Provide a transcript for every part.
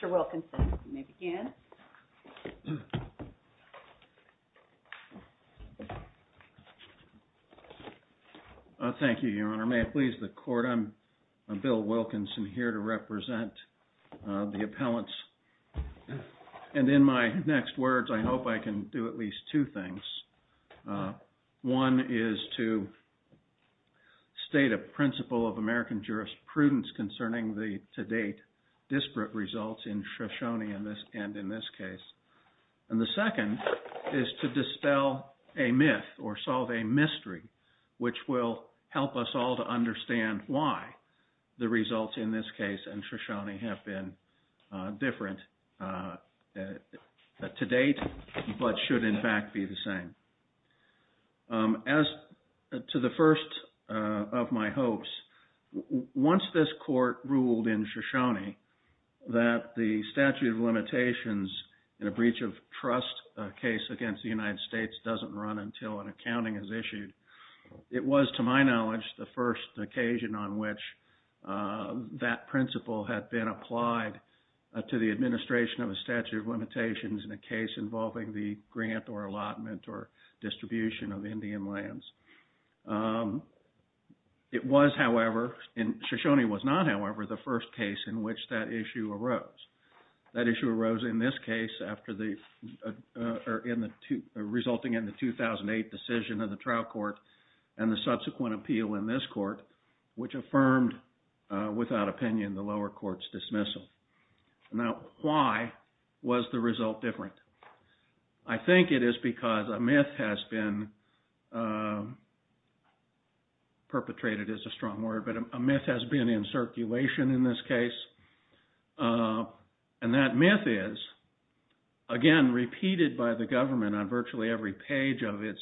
Mr. Wilkinson, you may begin. Thank you, Your Honor. May it please the Court, I'm Bill Wilkinson here to represent the appellants. And in my next words, I hope I can do at least two things. One is to state a principle of American jurisprudence concerning the, to date, disparate results in Shoshone and in this case. And the second is to dispel a myth or solve a mystery, which will help us all to understand why the results in this case and Shoshone have been different to date, but should in fact be the same. As to the first of my hopes, once this Court ruled in Shoshone that the statute of limitations in a breach of trust case against the United States doesn't run until an accounting is which that principle had been applied to the administration of a statute of limitations in a case involving the grant or allotment or distribution of Indian lands. It was, however, and Shoshone was not, however, the first case in which that issue arose. That issue arose in this case after the, resulting in the 2008 decision of the trial court and the subsequent appeal in this court, which affirmed, without opinion, the lower court's dismissal. Now, why was the result different? I think it is because a myth has been, perpetrated is a strong word, but a myth has been in circulation in this case. And that myth is, again, repeated by the government on virtually every page of its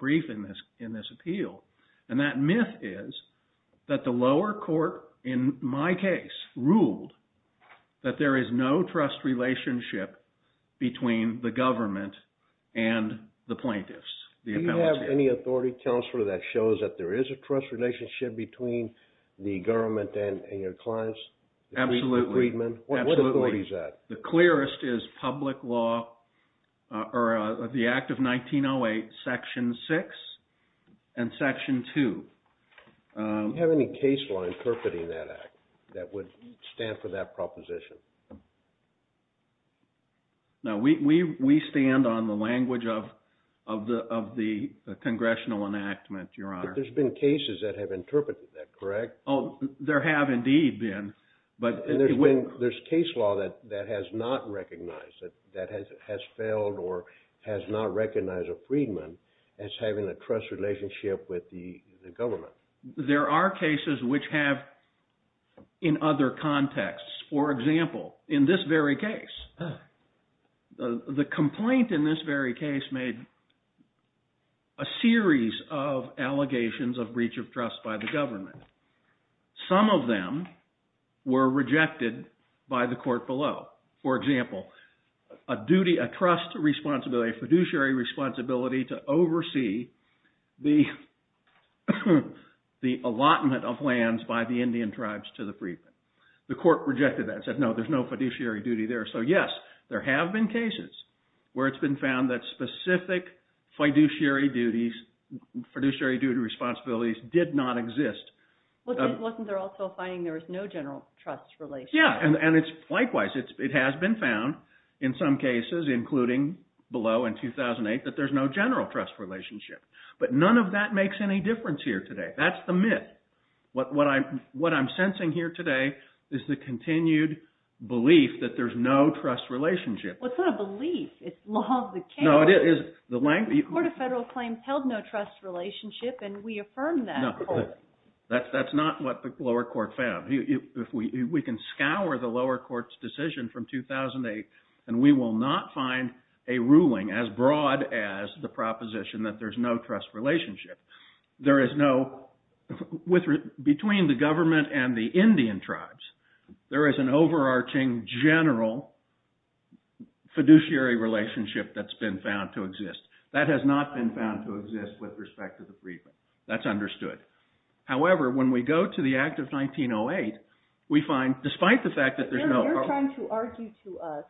brief in this appeal. And that myth is that the lower court, in my case, ruled that there is no trust relationship between the government and the plaintiffs, the appellate. Do you have any authority, Counselor, that shows that there is a trust relationship between the government and your clients? Absolutely. The freedmen? Absolutely. What authority is that? The clearest is public law, or the Act of 1908, Section 6 and Section 2. Do you have any case law interpreting that Act that would stand for that proposition? No, we stand on the language of the Congressional enactment, Your Honor. But there's been cases that have interpreted that, correct? There have, indeed, been. There's case law that has not recognized, that has failed or has not recognized a freedman as having a trust relationship with the government. There are cases which have in other contexts. For example, in this very case, the complaint in this very case made a series of allegations of breach of trust by the government. Some of them were rejected by the court below. For example, a trust responsibility, a fiduciary responsibility to oversee the allotment of lands by the Indian tribes to the freedmen. The court rejected that and said, no, there's no fiduciary duty there. So yes, there have been cases where it's been found that specific fiduciary duties, fiduciary Wasn't there also a finding there was no general trust relationship? Yeah, and it's likewise. It has been found in some cases, including below in 2008, that there's no general trust relationship. But none of that makes any difference here today. That's the myth. What I'm sensing here today is the continued belief that there's no trust relationship. Well, it's not a belief. It's law of the case. No, it is. The length of the... The Court of Federal Claims held no trust relationship, and we affirm that. No, that's not what the lower court found. We can scour the lower court's decision from 2008, and we will not find a ruling as broad as the proposition that there's no trust relationship. There is no... Between the government and the Indian tribes, there is an overarching general fiduciary relationship that's been found to exist. That has not been found to exist with respect to the freedmen. That's understood. However, when we go to the act of 1908, we find, despite the fact that there's no... You're trying to argue to us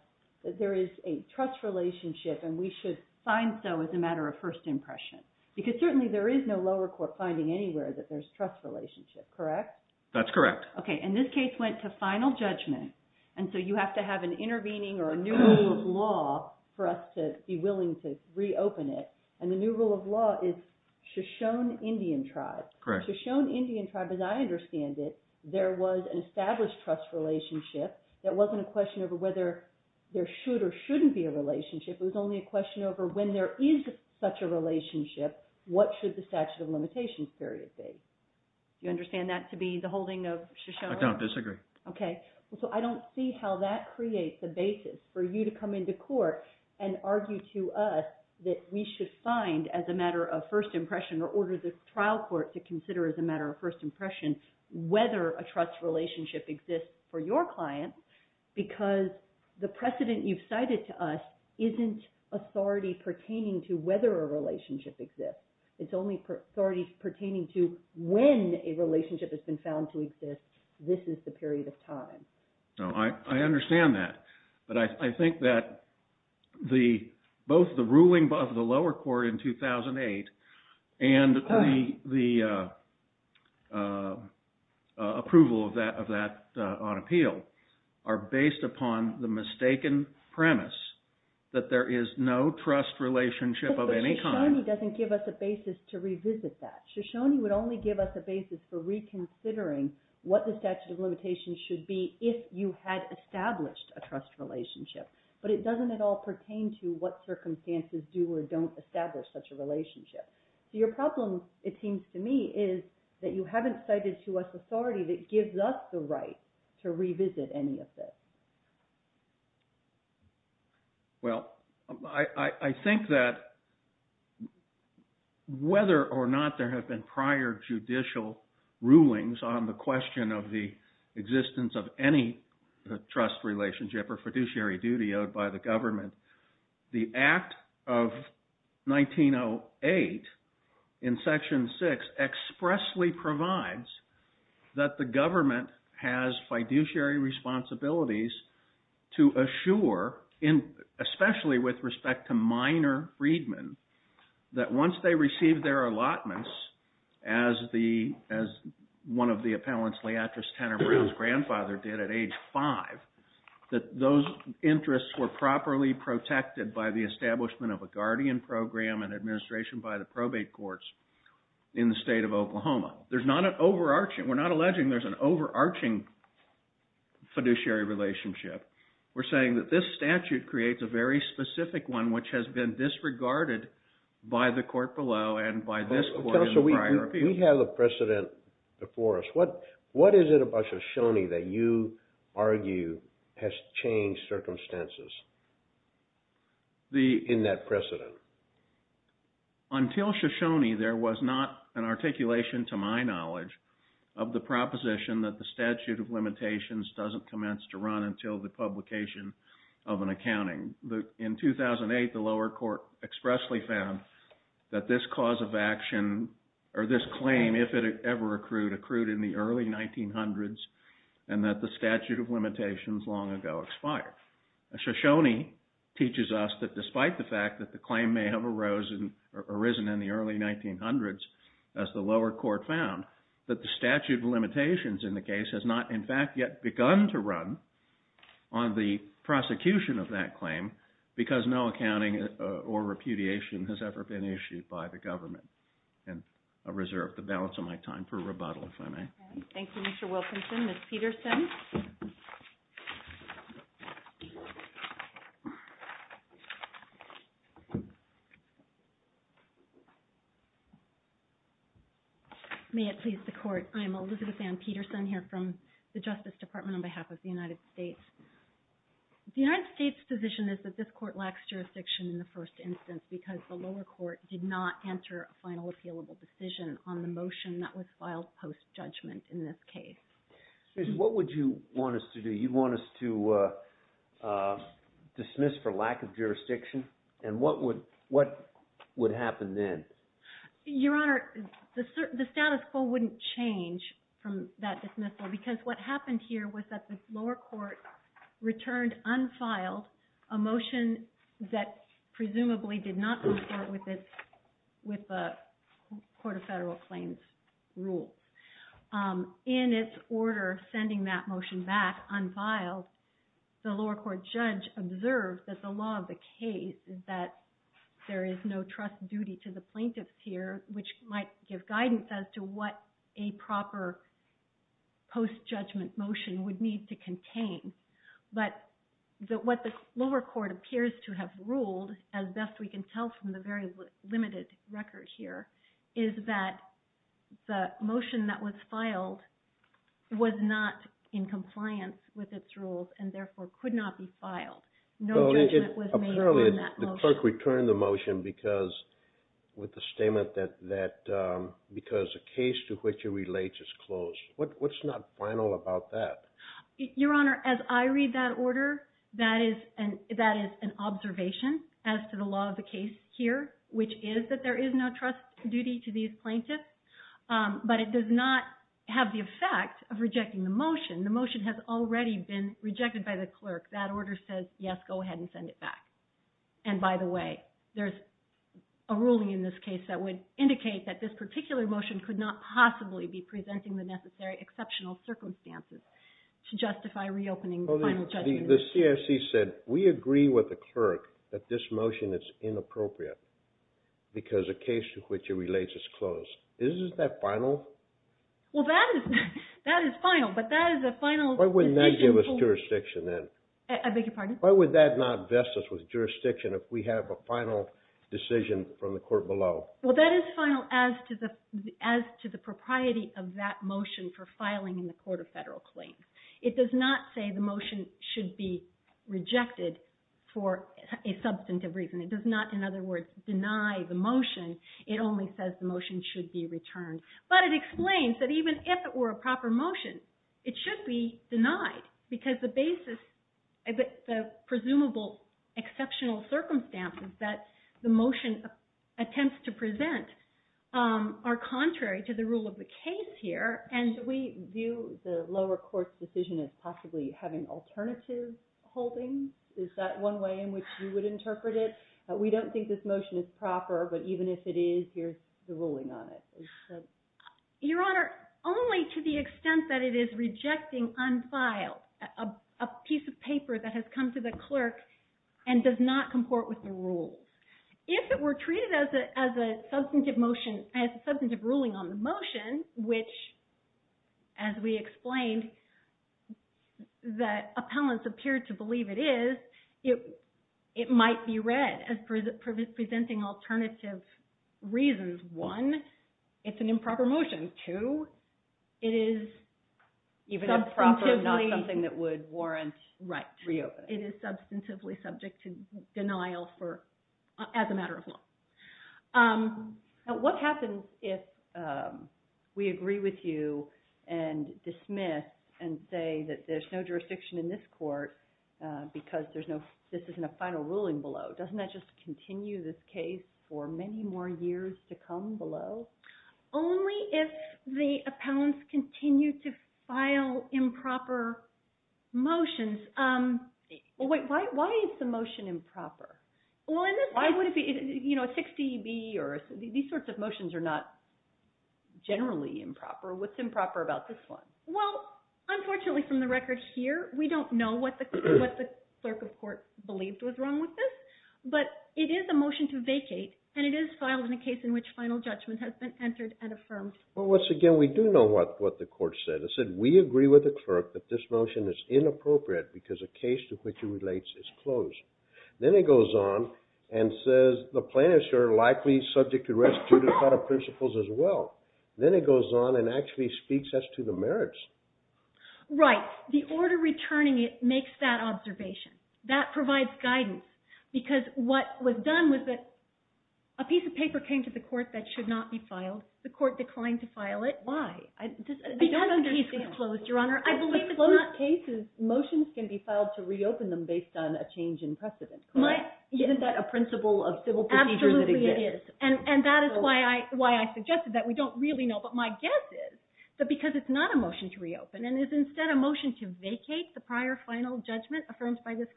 that there is a trust relationship, and we should find so as a matter of first impression, because certainly there is no lower court finding anywhere that there's a trust relationship. Correct? That's correct. Okay, and this case went to final judgment, and so you have to have an intervening or a new rule of law for us to be willing to reopen it. And the new rule of law is Shoshone Indian tribe. Correct. Shoshone Indian tribe, as I understand it, there was an established trust relationship. There wasn't a question over whether there should or shouldn't be a relationship. It was only a question over when there is such a relationship, what should the statute of limitations period be? You understand that to be the holding of Shoshone? I don't disagree. Okay. So I don't see how that creates a basis for you to come into court and argue to us that we should find, as a matter of first impression, or order the trial court to consider as a matter of first impression, whether a trust relationship exists for your client, because the precedent you've cited to us isn't authority pertaining to whether a relationship exists. It's only authority pertaining to when a relationship has been found to exist, this is the period of time. I understand that. But I think that both the ruling of the lower court in 2008 and the approval of that on appeal are based upon the mistaken premise that there is no trust relationship of any kind. But Shoshone doesn't give us a basis to revisit that. Shoshone would only give us a basis for reconsidering what the statute of limitations should be if you had established a trust relationship. But it doesn't at all pertain to what circumstances do or don't establish such a relationship. So your problem, it seems to me, is that you haven't cited to us authority that gives us the right to revisit any of this. Well I think that whether or not there have been prior judicial rulings on the question of the existence of any trust relationship or fiduciary duty owed by the government, the Act of 1908 in Section 6 expressly provides that the government has fiduciary responsibilities to assure, especially with respect to minor freedmen, that once they receive their allotments as one of the appellants, Leatrice Tanner Brown's grandfather did at age five, that those interests were properly protected by the establishment of a guardian program and administration by the probate courts in the state of Oklahoma. There's not an overarching, we're not alleging there's an overarching fiduciary relationship. We're saying that this statute creates a very specific one which has been disregarded by the court below and by this court in the prior appeal. Tell us, we have a precedent before us. What is it about Shoshone that you argue has changed circumstances in that precedent? Until Shoshone, there was not an articulation, to my knowledge, of the proposition that the statute of limitations doesn't commence to run until the publication of an accounting. In 2008, the lower court expressly found that this cause of action, or this claim, if it ever accrued, accrued in the early 1900s and that the statute of limitations long ago expired. Shoshone teaches us that despite the fact that the claim may have arisen in the early 1900s, as the lower court found, that the statute of limitations in the case has not, in fact, yet begun to run on the prosecution of that claim because no accounting or repudiation has ever been issued by the government. And I reserve the balance of my time for rebuttal, if I may. Thank you, Mr. Wilkinson. May it please the court. I'm Elizabeth Ann Peterson here from the Justice Department on behalf of the United States. The United States' position is that this court lacks jurisdiction in the first instance because the lower court did not enter a final appealable decision on the motion that was filed post-judgment in this case. What would you want us to do? You'd want us to dismiss for lack of jurisdiction? And what would happen then? Your Honor, the status quo wouldn't change from that dismissal because what happened here was that the lower court returned unfiled a motion that presumably did not conform with the Court of Federal Claims rule. In its order sending that motion back unfiled, the lower court judge observed that the law of the case is that there is no trust duty to the plaintiffs here, which might give guidance as to what a proper post-judgment motion would need to contain. But what the lower court appears to have ruled, as best we can tell from the very limited record here, is that the motion that was filed was not in compliance with its rules and therefore could not be filed. No judgment was made on that motion. Apparently, the clerk returned the motion with the statement that because the case to which it relates is closed. What's not final about that? Your Honor, as I read that order, that is an observation as to the law of the case here, which is that there is no trust duty to these plaintiffs, but it does not have the effect of rejecting the motion. The motion has already been rejected by the clerk. That order says, yes, go ahead and send it back. And by the way, there's a ruling in this case that would indicate that this particular motion could not possibly be presenting the necessary exceptional circumstances to justify reopening the final judgment. The CFC said, we agree with the clerk that this motion is inappropriate because a case to which it relates is closed. Isn't that final? Well, that is final, but that is a final decision. Give us jurisdiction then. I beg your pardon? Why would that not vest us with jurisdiction if we have a final decision from the court below? Well, that is final as to the propriety of that motion for filing in the Court of Federal Claims. It does not say the motion should be rejected for a substantive reason. It does not, in other words, deny the motion. It only says the motion should be returned. But it explains that even if it were a proper motion, it should be denied because the basis, the presumable exceptional circumstances that the motion attempts to present are contrary to the rule of the case here. And we view the lower court's decision as possibly having alternative holdings. Is that one way in which you would interpret it? We don't think this motion is proper, but even if it is, here's the ruling on it. Your Honor, only to the extent that it is rejecting unfiled, a piece of paper that has come to the clerk and does not comport with the rules. If it were treated as a substantive ruling on the motion, which, as we explained, that appellants appeared to believe it is, it might be read as presenting alternative reasons. One, it's an improper motion. Two, it is even a proper, not something that would warrant reopening. It is substantively subject to denial as a matter of law. What happens if we agree with you and dismiss and say that there's no jurisdiction in this court because this isn't a final ruling below? Doesn't that just continue this case for many more years to come below? Only if the appellants continue to file improper motions. Well, wait, why is the motion improper? Why would it be? These sorts of motions are not generally improper. What's improper about this one? Well, unfortunately, from the record here, we don't know what the clerk of court believed was wrong with this, but it is a motion to vacate, and it is filed in a case in which final judgment has been entered and affirmed. Well, once again, we do know what the court said. It said, we agree with the clerk that this motion is inappropriate because a case to which it relates is closed. Then it goes on and says the plaintiffs are likely subject to restitution of principles as well. Then it goes on and actually speaks as to the merits. Right. The order returning it makes that observation. That provides guidance. Because what was done was that a piece of paper came to the court that should not be filed. The court declined to file it. Why? Because the case is closed, Your Honor. I believe it's not— In closed cases, motions can be filed to reopen them based on a change in precedent, correct? Isn't that a principle of civil procedure that exists? Absolutely, it is. And that is why I suggested that. We don't really know. But my guess is that because it's not a motion to reopen and is instead a motion to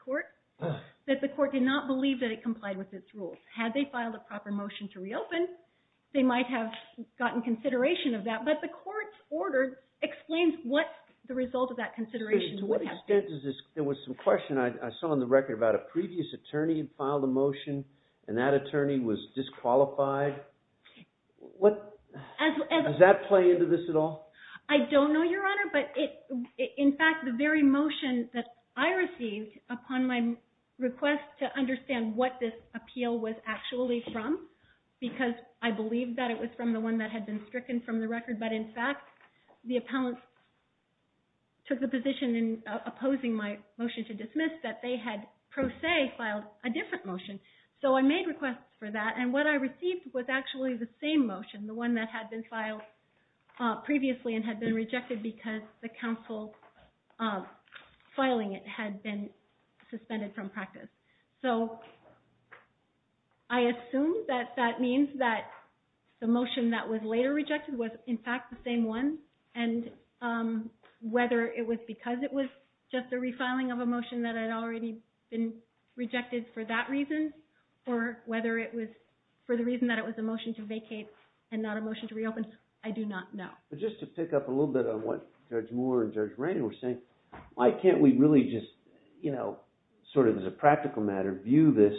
court, that the court did not believe that it complied with its rules. Had they filed a proper motion to reopen, they might have gotten consideration of that. But the court's order explains what the result of that consideration would have been. To what extent does this— There was some question I saw on the record about a previous attorney filed a motion and that attorney was disqualified. What— Does that play into this at all? I don't know, Your Honor. But in fact, the very motion that I received upon my request to understand what this appeal was actually from, because I believed that it was from the one that had been stricken from the record, but in fact, the appellant took the position in opposing my motion to dismiss that they had pro se filed a different motion. So I made requests for that. And what I received was actually the same motion, the one that had been filed previously and had been rejected because the counsel filing it had been suspended from practice. So I assume that that means that the motion that was later rejected was, in fact, the same one. And whether it was because it was just a refiling of a motion that had already been rejected for that reason, or whether it was for the reason that it was a motion to vacate and not a motion to reopen, I do not know. But just to pick up a little bit on what Judge Moore and Judge Rain were saying, why can't we really just, you know, sort of as a practical matter, view this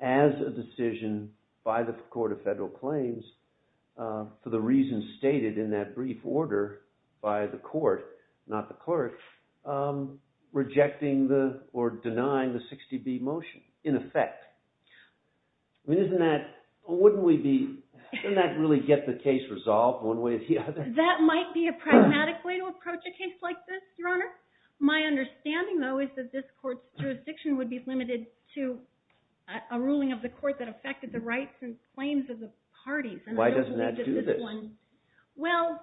as a decision by the Court of Federal Claims for the reasons stated in that brief order by the court, not the clerk, rejecting or denying the 60B motion in effect? I mean, wouldn't that really get the case resolved one way or the other? That might be a pragmatic way to approach a case like this, Your Honor. My understanding, though, is that this court's jurisdiction would be limited to a ruling of the court that affected the rights and claims of the parties. Why doesn't that do this? Well,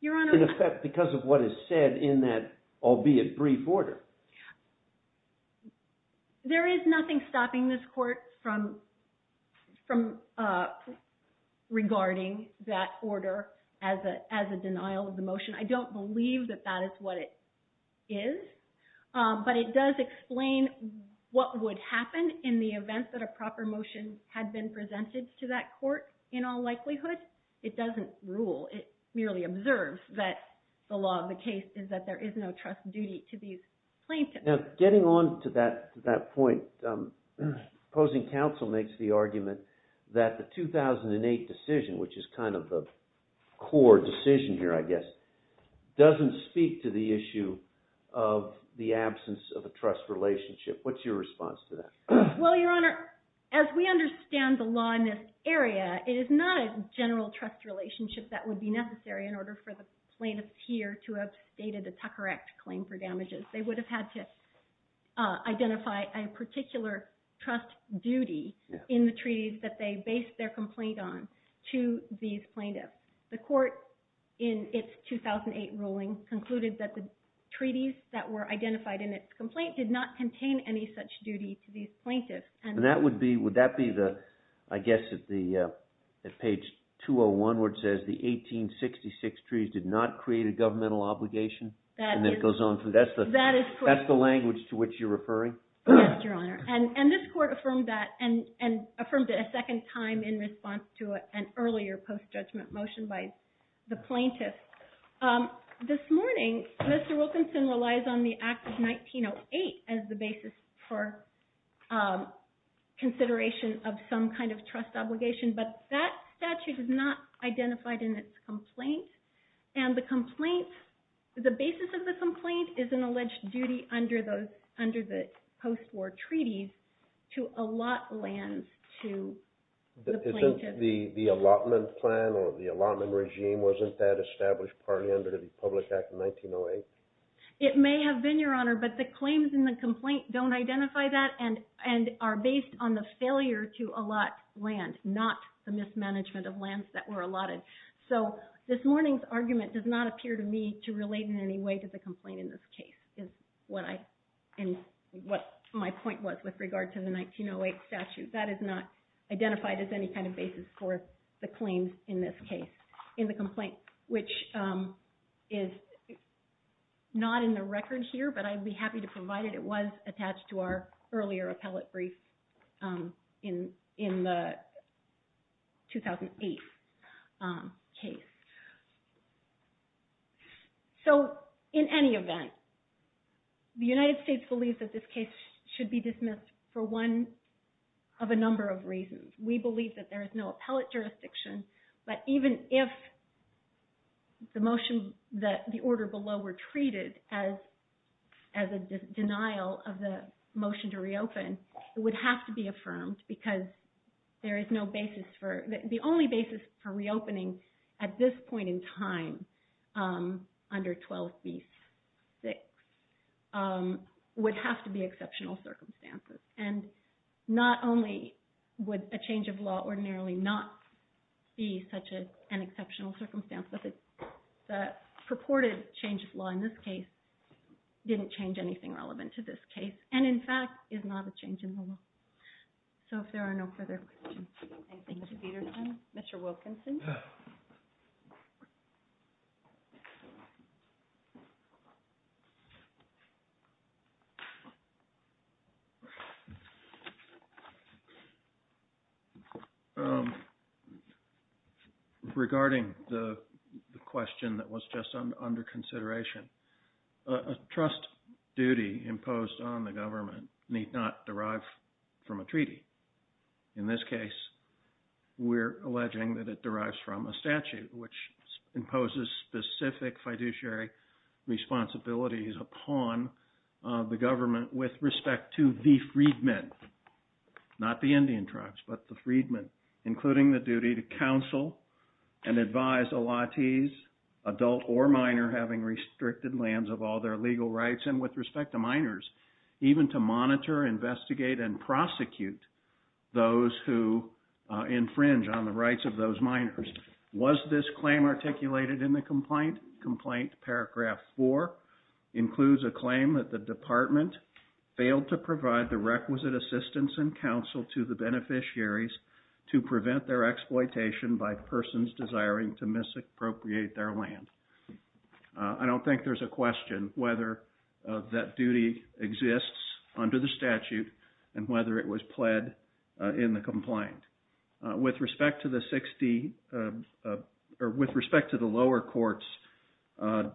Your Honor— In effect, because of what is said in that albeit brief order. There is nothing stopping this court from regarding that order as a denial of the motion. I don't believe that that is what it is, but it does explain what would happen in the event that a proper motion had been presented to that court, in all likelihood. It doesn't rule. It merely observes that the law of the case is that there is no trust duty to these parties or plaintiffs. Now, getting on to that point, opposing counsel makes the argument that the 2008 decision, which is kind of the core decision here, I guess, doesn't speak to the issue of the absence of a trust relationship. What's your response to that? Well, Your Honor, as we understand the law in this area, it is not a general trust relationship that would be necessary in order for the plaintiffs here to have stated a Tucker Act claim for damages. They would have had to identify a particular trust duty in the treaties that they based their complaint on to these plaintiffs. The court, in its 2008 ruling, concluded that the treaties that were identified in its complaint did not contain any such duty to these plaintiffs. And that would be—would that be the—I guess at page 201 where it says the 1866 treaties did not create a governmental obligation? And it goes on through—that's the language to which you're referring? Yes, Your Honor. And this court affirmed that, and affirmed it a second time in response to an earlier post-judgment motion by the plaintiffs. This morning, Mr. Wilkinson relies on the Act of 1908 as the basis for consideration of some kind of trust obligation, but that statute is not identified in its complaint. And the complaint—the basis of the complaint is an alleged duty under the post-war treaties to allot lands to the plaintiffs. Isn't the allotment plan or the allotment regime—wasn't that established partly under the Public Act of 1908? It may have been, Your Honor, but the claims in the complaint don't identify that and are based on the failure to allot land, not the mismanagement of lands that were allotted. So this morning's argument does not appear to me to relate in any way to the complaint in this case, is what I—and what my point was with regard to the 1908 statute. That is not identified as any kind of basis for the claims in this case—in the complaint, which is not in the record here, but I'd be happy to provide it. It was attached to our earlier appellate brief in the 2008. case. So in any event, the United States believes that this case should be dismissed for one of a number of reasons. We believe that there is no appellate jurisdiction, but even if the motion—the order below were treated as a denial of the motion to reopen, it would have to be affirmed because there at this point in time, under 12b-6, would have to be exceptional circumstances. And not only would a change of law ordinarily not be such an exceptional circumstance, but the purported change of law in this case didn't change anything relevant to this case and, in fact, is not a change in the law. So if there are no further questions. Thank you, Peterson. Mr. Wilkinson? Regarding the question that was just under consideration, a trust duty imposed on the in this case, we're alleging that it derives from a statute which imposes specific fiduciary responsibilities upon the government with respect to the freedmen, not the Indian tribes, but the freedmen, including the duty to counsel and advise a latiz, adult or minor, having restricted lands of all their legal rights, and with respect to minors, even to monitor, investigate, and prosecute those who infringe on the rights of those minors. Was this claim articulated in the complaint? Complaint paragraph four includes a claim that the department failed to provide the requisite assistance and counsel to the beneficiaries to prevent their exploitation by persons desiring to misappropriate their land. I don't think there's a question whether that duty exists under the statute and whether it was pled in the complaint. With respect to the lower court's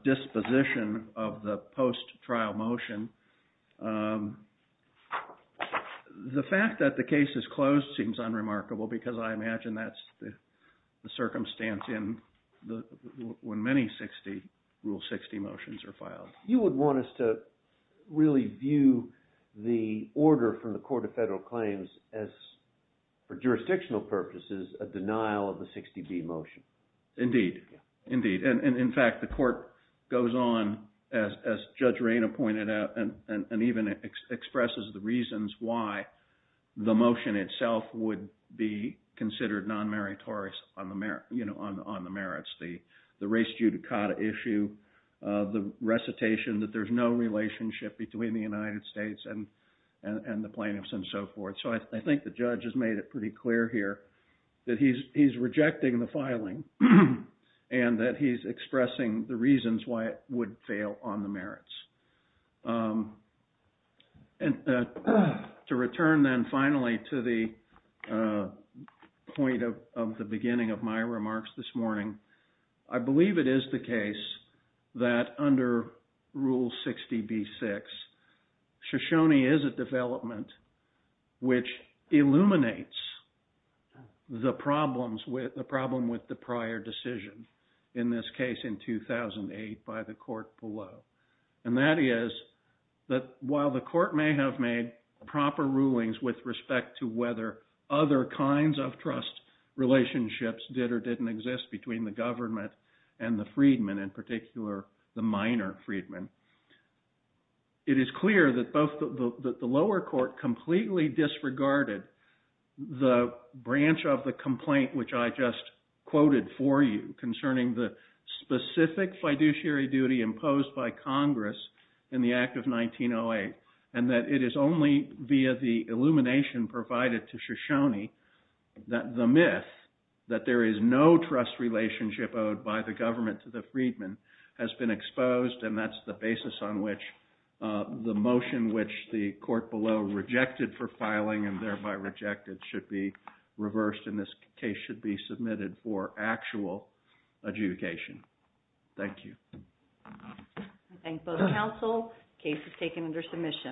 disposition of the post-trial motion, the fact that the case is closed seems unremarkable because I imagine that's the circumstance when many Rule 60 motions are filed. You would want us to really view the order from the Court of Federal Claims as, for jurisdictional purposes, a denial of the 60B motion. Indeed. Indeed. And in fact, the court goes on, as Judge Reyna pointed out, and even expresses the reasons why the motion itself would be considered non-meritorious on the merits. The race judicata issue, the recitation that there's no relationship between the United States and the plaintiffs and so forth. So I think the judge has made it pretty clear here that he's rejecting the filing and that he's expressing the reasons why it would fail on the merits. And to return then finally to the point of the beginning of my remarks this morning, I believe it is the case that under Rule 60B-6, Shoshone is a development which illuminates the problem with the prior decision, in this case in 2008 by the court below. And that is that while the court may have made proper rulings with respect to whether other kinds of trust relationships did or didn't exist between the government and the freedman, in particular the minor freedman, it is clear that the lower court completely disregarded the branch of the complaint which I just quoted for you concerning the specific fiduciary duty imposed by Congress in the act of 1908. And that it is only via the illumination provided to Shoshone that the myth that there is no trust relationship owed by the government to the freedman has been exposed. And that's the basis on which the motion which the court below rejected for filing and thereby rejected should be reversed. And this case should be submitted for actual adjudication. Thank you. I thank both counsel. Case is taken under submission.